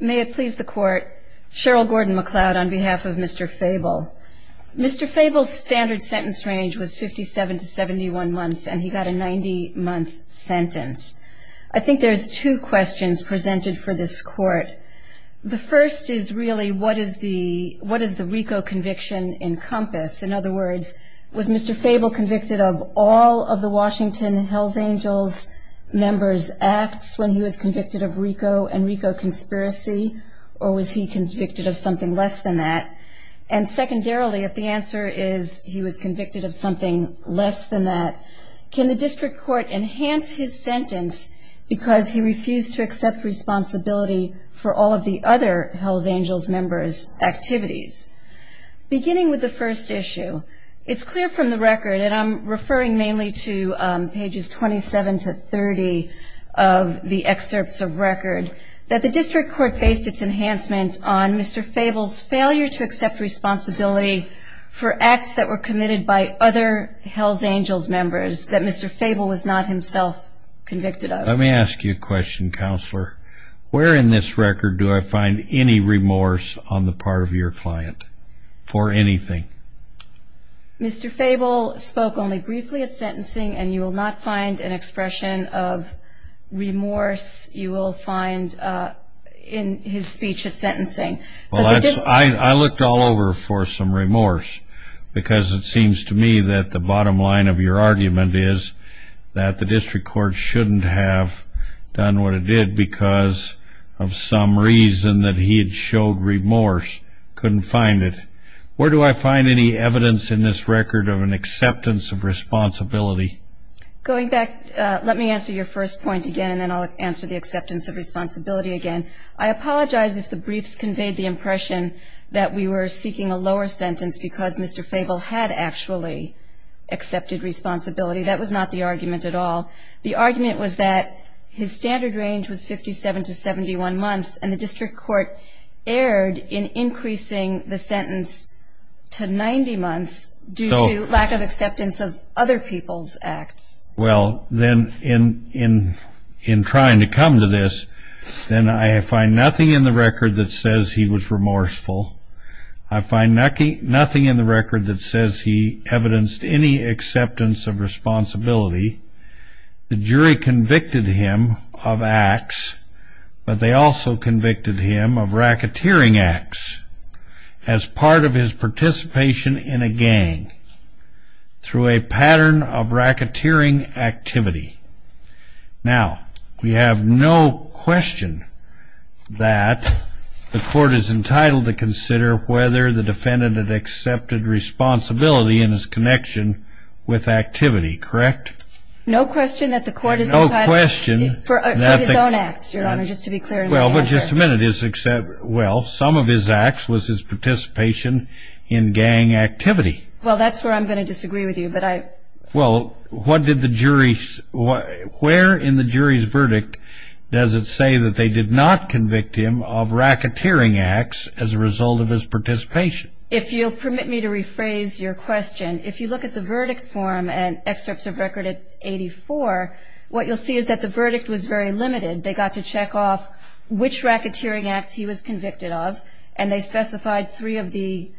May it please the court, Cheryl Gordon-McLeod on behalf of Mr. Fabel. Mr. Fabel's standard sentence range was 57 to 71 months, and he got a 90-month sentence. I think there's two questions presented for this court. The first is really what does the RICO conviction encompass? In other words, was Mr. Fabel convicted of all of the Washington Hells Angels members' acts when he was convicted of RICO and RICO conspiracy, or was he convicted of something less than that? And secondarily, if the answer is he was convicted of something less than that, can the district court enhance his sentence because he refused to accept responsibility for all of the other Hells Angels members' activities? Beginning with the first issue, it's clear from the record, and I'm referring mainly to pages 27 to 30 of the excerpts of record, that the district court based its enhancement on Mr. Fabel's failure to accept responsibility for acts that were committed by other Hells Angels members that Mr. Fabel was not himself convicted of. Let me ask you a question, Counselor. Where in this record do I find any remorse on the part of your client for anything? Mr. Fabel spoke only briefly at sentencing, and you will not find an expression of remorse you will find in his speech at sentencing. I looked all over for some remorse because it seems to me that the bottom line of your argument is that the district court shouldn't have done what it did because of some reason that he had showed remorse, couldn't find it. Where do I find any evidence in this record of an acceptance of responsibility? Going back, let me answer your first point again, and then I'll answer the acceptance of responsibility again. I apologize if the briefs conveyed the impression that we were seeking a lower sentence because Mr. Fabel had actually accepted responsibility. That was not the argument at all. The argument was that his standard range was 57 to 71 months, and the district court erred in increasing the sentence to 90 months due to lack of acceptance of other people's acts. Well, then in trying to come to this, then I find nothing in the record that says he was remorseful. I find nothing in the record that says he evidenced any acceptance of responsibility. The jury convicted him of acts, but they also convicted him of racketeering acts as part of his participation in a gang through a pattern of racketeering activity. Now, we have no question that the court is entitled to consider whether the defendant had accepted responsibility in his connection with activity, correct? No question that the court is entitled for his own acts, Your Honor, just to be clear in the answer. Well, but just a minute. Well, some of his acts was his participation in gang activity. Well, that's where I'm going to disagree with you, but I... Well, what did the jury... Where in the jury's verdict does it say that they did not convict him of racketeering acts as a result of his participation? If you'll permit me to rephrase your question, if you look at the verdict form and excerpts of record at 84, what you'll see is that the verdict was very limited. They got to check off which racketeering acts he was convicted of, and they specified three of the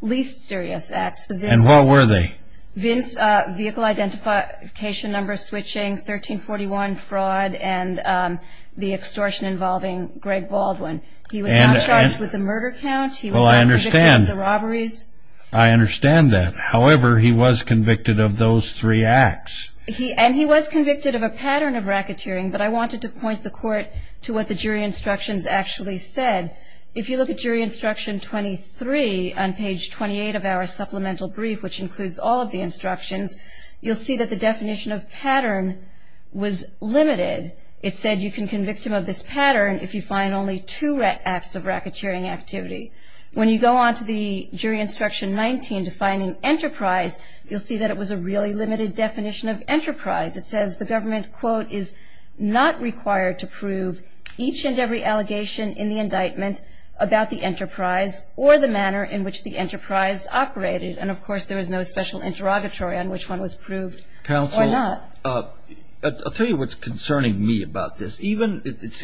least serious acts. And what were they? Vince, vehicle identification number switching, 1341 fraud, and the extortion involving Greg Baldwin. He was not charged with the murder count. He was not convicted of the robberies. I understand that. However, he was convicted of those three acts. And he was convicted of a pattern of racketeering, but I wanted to point the court to what the jury instructions actually said. If you look at jury instruction 23 on page 28 of our supplemental brief, which includes all of the instructions, you'll see that the definition of pattern was limited. It said you can convict him of this pattern if you find only two acts of racketeering activity. When you go on to the jury instruction 19, defining enterprise, you'll see that it was a really limited definition of enterprise. It says the government, quote, is not required to prove each and every allegation in the indictment about the enterprise or the manner in which the enterprise operated. And, of course, there was no special interrogatory on which one was proved or not. I'll tell you what's concerning me about this.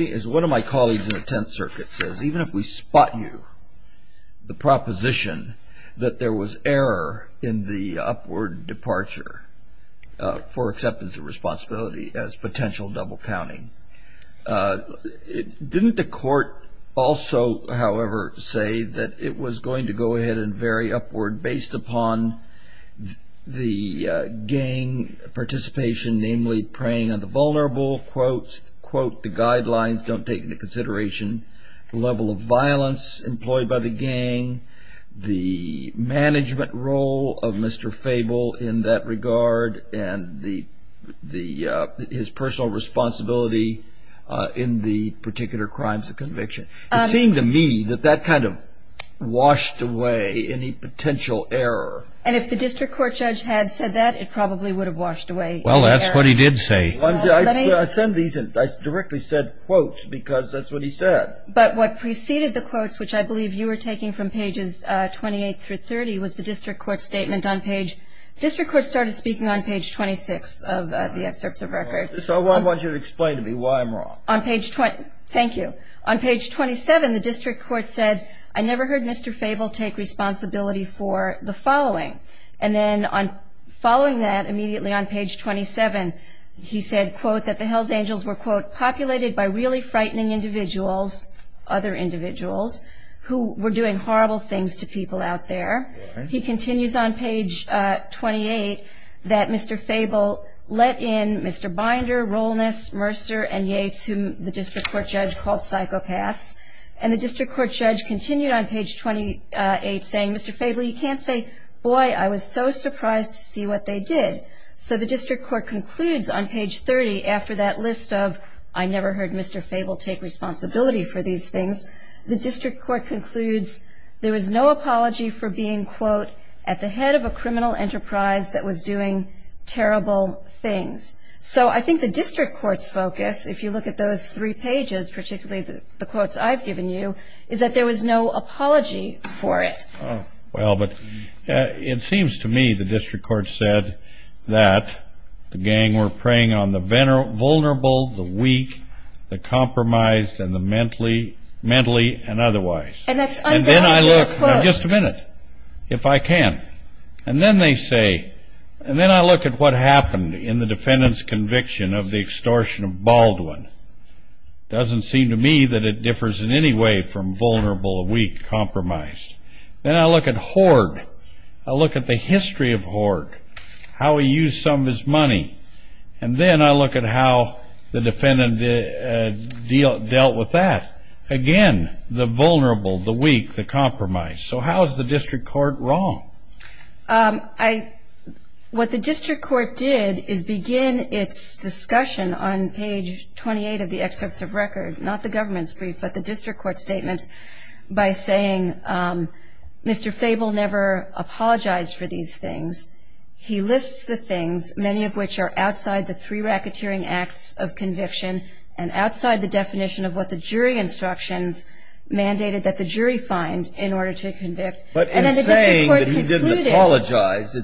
As one of my colleagues in the Tenth Circuit says, even if we spot you the proposition that there was error in the upward departure for acceptance of responsibility as potential double counting, didn't the court also, however, say that it was going to go ahead and vary upward based upon the gang participation, namely preying on the vulnerable, quote, quote, the guidelines don't take into consideration the level of violence employed by the gang, the management role of Mr. Fable in that regard, and his personal responsibility in the particular crimes of conviction. It seemed to me that that kind of washed away any potential error. And if the district court judge had said that, it probably would have washed away any error. Well, that's what he did say. I send these and I directly said quotes because that's what he said. But what preceded the quotes, which I believe you were taking from pages 28 through 30, was the district court statement on page, district court started speaking on page 26 of the excerpts of record. So I want you to explain to me why I'm wrong. On page 20, thank you. On page 27, the district court said, I never heard Mr. Fable take responsibility for the following. And then following that, immediately on page 27, he said, quote, that the Hells Angels were, quote, populated by really frightening individuals, other individuals who were doing horrible things to people out there. He continues on page 28 that Mr. Fable let in Mr. Binder, Rollness, Mercer, and Yates, whom the district court judge called psychopaths. And the district court judge continued on page 28 saying, Mr. Fable, you can't say, boy, I was so surprised to see what they did. So the district court concludes on page 30 after that list of, I never heard Mr. Fable take responsibility for these things, the district court concludes there was no apology for being, quote, at the head of a criminal enterprise that was doing terrible things. So I think the district court's focus, if you look at those three pages, particularly the quotes I've given you, is that there was no apology for it. Well, but it seems to me the district court said that the gang were preying on the vulnerable, the weak, the compromised, and the mentally and otherwise. And that's undoubtedly a quote. Now, just a minute, if I can. And then they say, and then I look at what happened in the defendant's conviction of the extortion of Baldwin. Doesn't seem to me that it differs in any way from vulnerable, weak, compromised. Then I look at Hoard. I look at the history of Hoard, how he used some of his money. And then I look at how the defendant dealt with that. Again, the vulnerable, the weak, the compromised. So how is the district court wrong? What the district court did is begin its discussion on page 28 of the excerpts of record, not the government's brief, but the district court's statements, by saying Mr. Fable never apologized for these things. He lists the things, many of which are outside the three racketeering acts of conviction and outside the definition of what the jury instructions mandated that the jury find in order to convict. But in saying that he didn't apologize,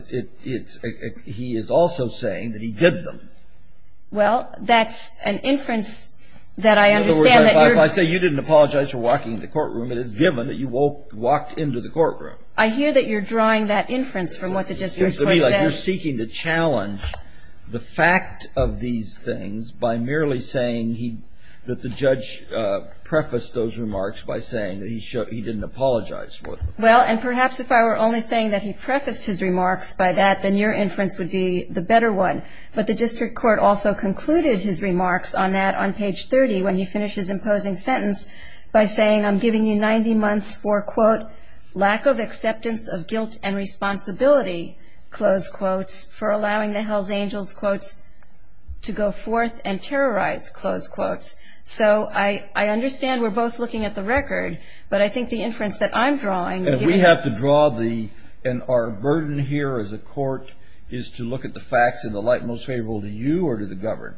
he is also saying that he did them. Well, that's an inference that I understand. In other words, if I say you didn't apologize for walking into the courtroom, it is given that you walked into the courtroom. I hear that you're drawing that inference from what the district court says. It seems to me like you're seeking to challenge the fact of these things by merely saying that the judge prefaced those remarks by saying that he didn't apologize for them. Well, and perhaps if I were only saying that he prefaced his remarks by that, then your inference would be the better one. But the district court also concluded his remarks on that on page 30 when he finishes imposing sentence by saying I'm giving you 90 months for, quote, lack of acceptance of guilt and responsibility, close quotes, for allowing the Hells Angels, quotes, to go forth and terrorize, close quotes. So I understand we're both looking at the record, but I think the inference that I'm drawing is that we have to draw the and our burden here as a court is to look at the facts in the light most favorable to you or to the governed.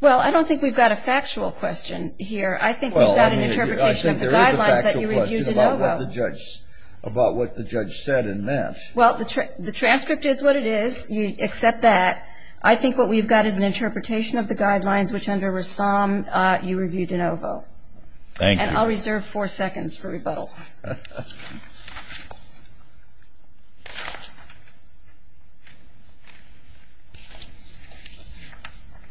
Well, I don't think we've got a factual question here. I think we've got an interpretation of the guidelines that you reviewed in OVO. Well, I think there is a factual question about what the judge said and meant. Well, the transcript is what it is. You accept that. I think what we've got is an interpretation of the guidelines, which under Ressam you reviewed in OVO. Thank you. And I'll reserve four seconds for rebuttal.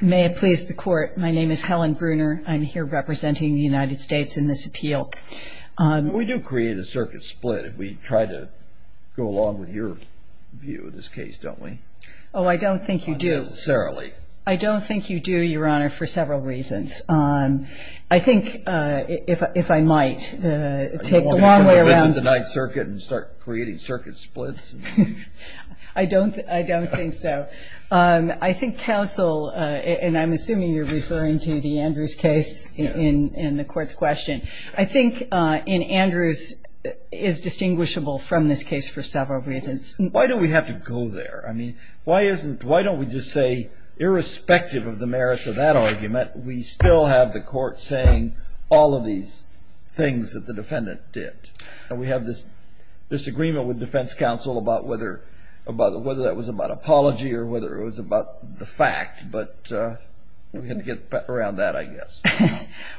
May it please the Court, my name is Helen Bruner. I'm here representing the United States in this appeal. We do create a circuit split if we try to go along with your view of this case, don't we? Oh, I don't think you do. Not necessarily. I don't think you do, Your Honor, for several reasons. I think, if I might, take the long way around. Are you going to revisit the Ninth Circuit and start creating circuit splits? I don't think so. I think counsel, and I'm assuming you're referring to the Andrews case in the Court's question. I think in Andrews is distinguishable from this case for several reasons. Why do we have to go there? I mean, why don't we just say, irrespective of the merits of that argument, we still have the Court saying all of these things that the defendant did. And we have this disagreement with defense counsel about whether that was about apology or whether it was about the fact. But we're going to get around that, I guess.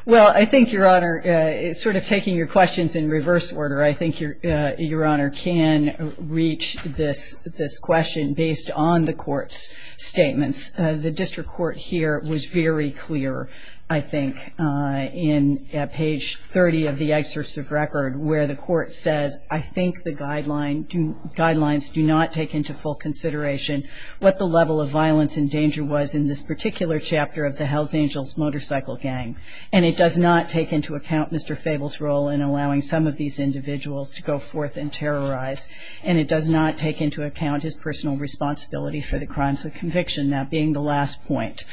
Well, I think, Your Honor, sort of taking your questions in reverse order, I think Your Honor can reach this question based on the Court's statements. The district court here was very clear, I think, in page 30 of the excerpt of record where the Court says, I think the guidelines do not take into full consideration what the level of violence and danger was in this particular chapter of the Hells Angels motorcycle gang. And it does not take into account Mr. Fable's role in allowing some of these individuals to go forth and terrorize. And it does not take into account his personal responsibility for the crimes of being the last point.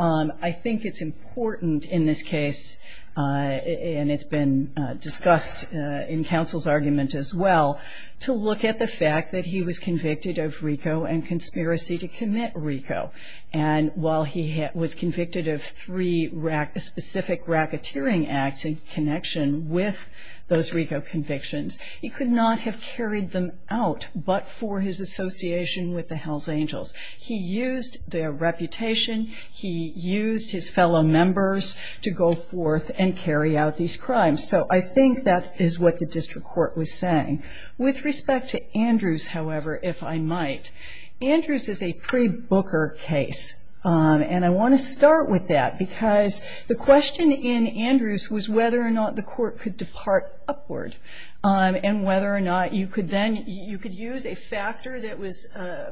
I think it's important in this case, and it's been discussed in counsel's argument as well, to look at the fact that he was convicted of RICO and conspiracy to commit RICO. And while he was convicted of three specific racketeering acts in connection with those RICO convictions, he could not have carried them out but for his association with the Hells Angels. He used their reputation. He used his fellow members to go forth and carry out these crimes. So I think that is what the district court was saying. With respect to Andrews, however, if I might, Andrews is a pre-Booker case. And I want to start with that because the question in Andrews was whether or not the Court could depart upward and whether or not you could then, you could use a factor that was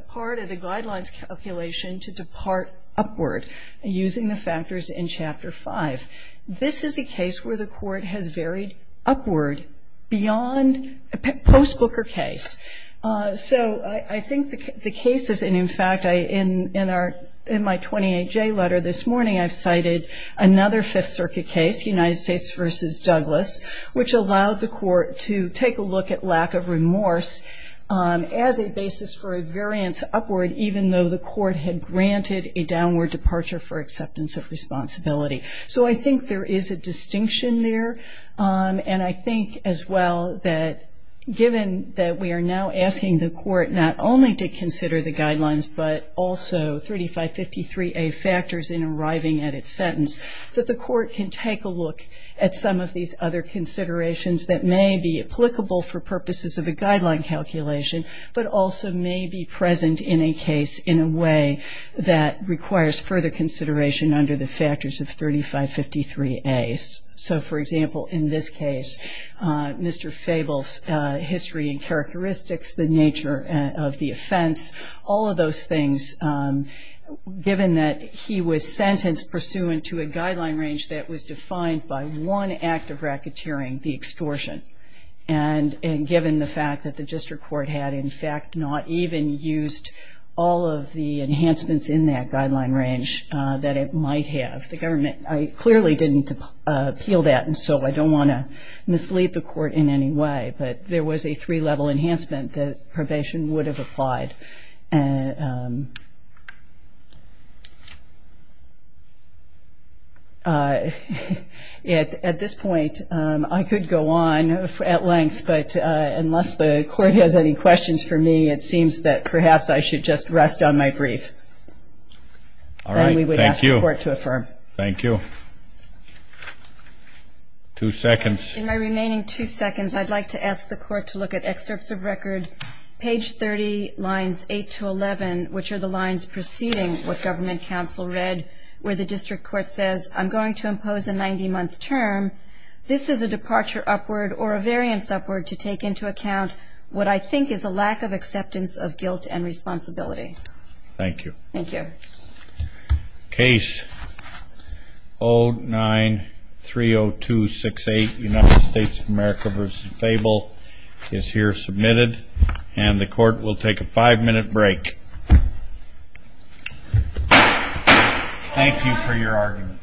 part of the guidelines calculation to depart upward, using the factors in Chapter 5. This is a case where the Court has varied upward beyond a post-Booker case. So I think the case is, and in fact, in our, in my 28J letter this morning, I've cited another Fifth Circuit case, United States v. Douglas, which allowed the Court to take a look at lack of remorse as a basis for a variance upward, even though the Court had granted a downward departure for acceptance of responsibility. So I think there is a distinction there. And I think as well that given that we are now asking the Court not only to consider the guidelines but also 3553A factors in arriving at its sentence, that the Court can take a look at some of these other considerations that may be applicable for purposes of a guideline calculation but also may be present in a case in a way that requires further consideration under the factors of 3553A. So, for example, in this case, Mr. Fable's history and characteristics, the nature of the offense, all of those things, given that he was sentenced pursuant to a guideline range that was defined by one act of racketeering, the extortion, and given the fact that the District Court had, in fact, not even used all of the enhancements in that guideline range that it might have. The government clearly didn't appeal that, and so I don't want to mislead the Court in any way, but there was a three-level enhancement that probation would have applied. At this point, I could go on at length, but unless the Court has any questions for me, it seems that perhaps I should just rest on my brief. All right. Thank you. And we would ask the Court to affirm. Thank you. Two seconds. In my remaining two seconds, I'd like to ask the Court to look at excerpts of record, page 30, lines 8 to 11, which are the lines preceding what government counsel read, where the District Court says, I'm going to impose a 90-month term. This is a departure upward or a variance upward to take into account what I think is a lack of acceptance of guilt and responsibility. Thank you. Thank you. Case 0930268, United States of America v. Fable, is here submitted, and the Court will take a five-minute break. Thank you for your argument.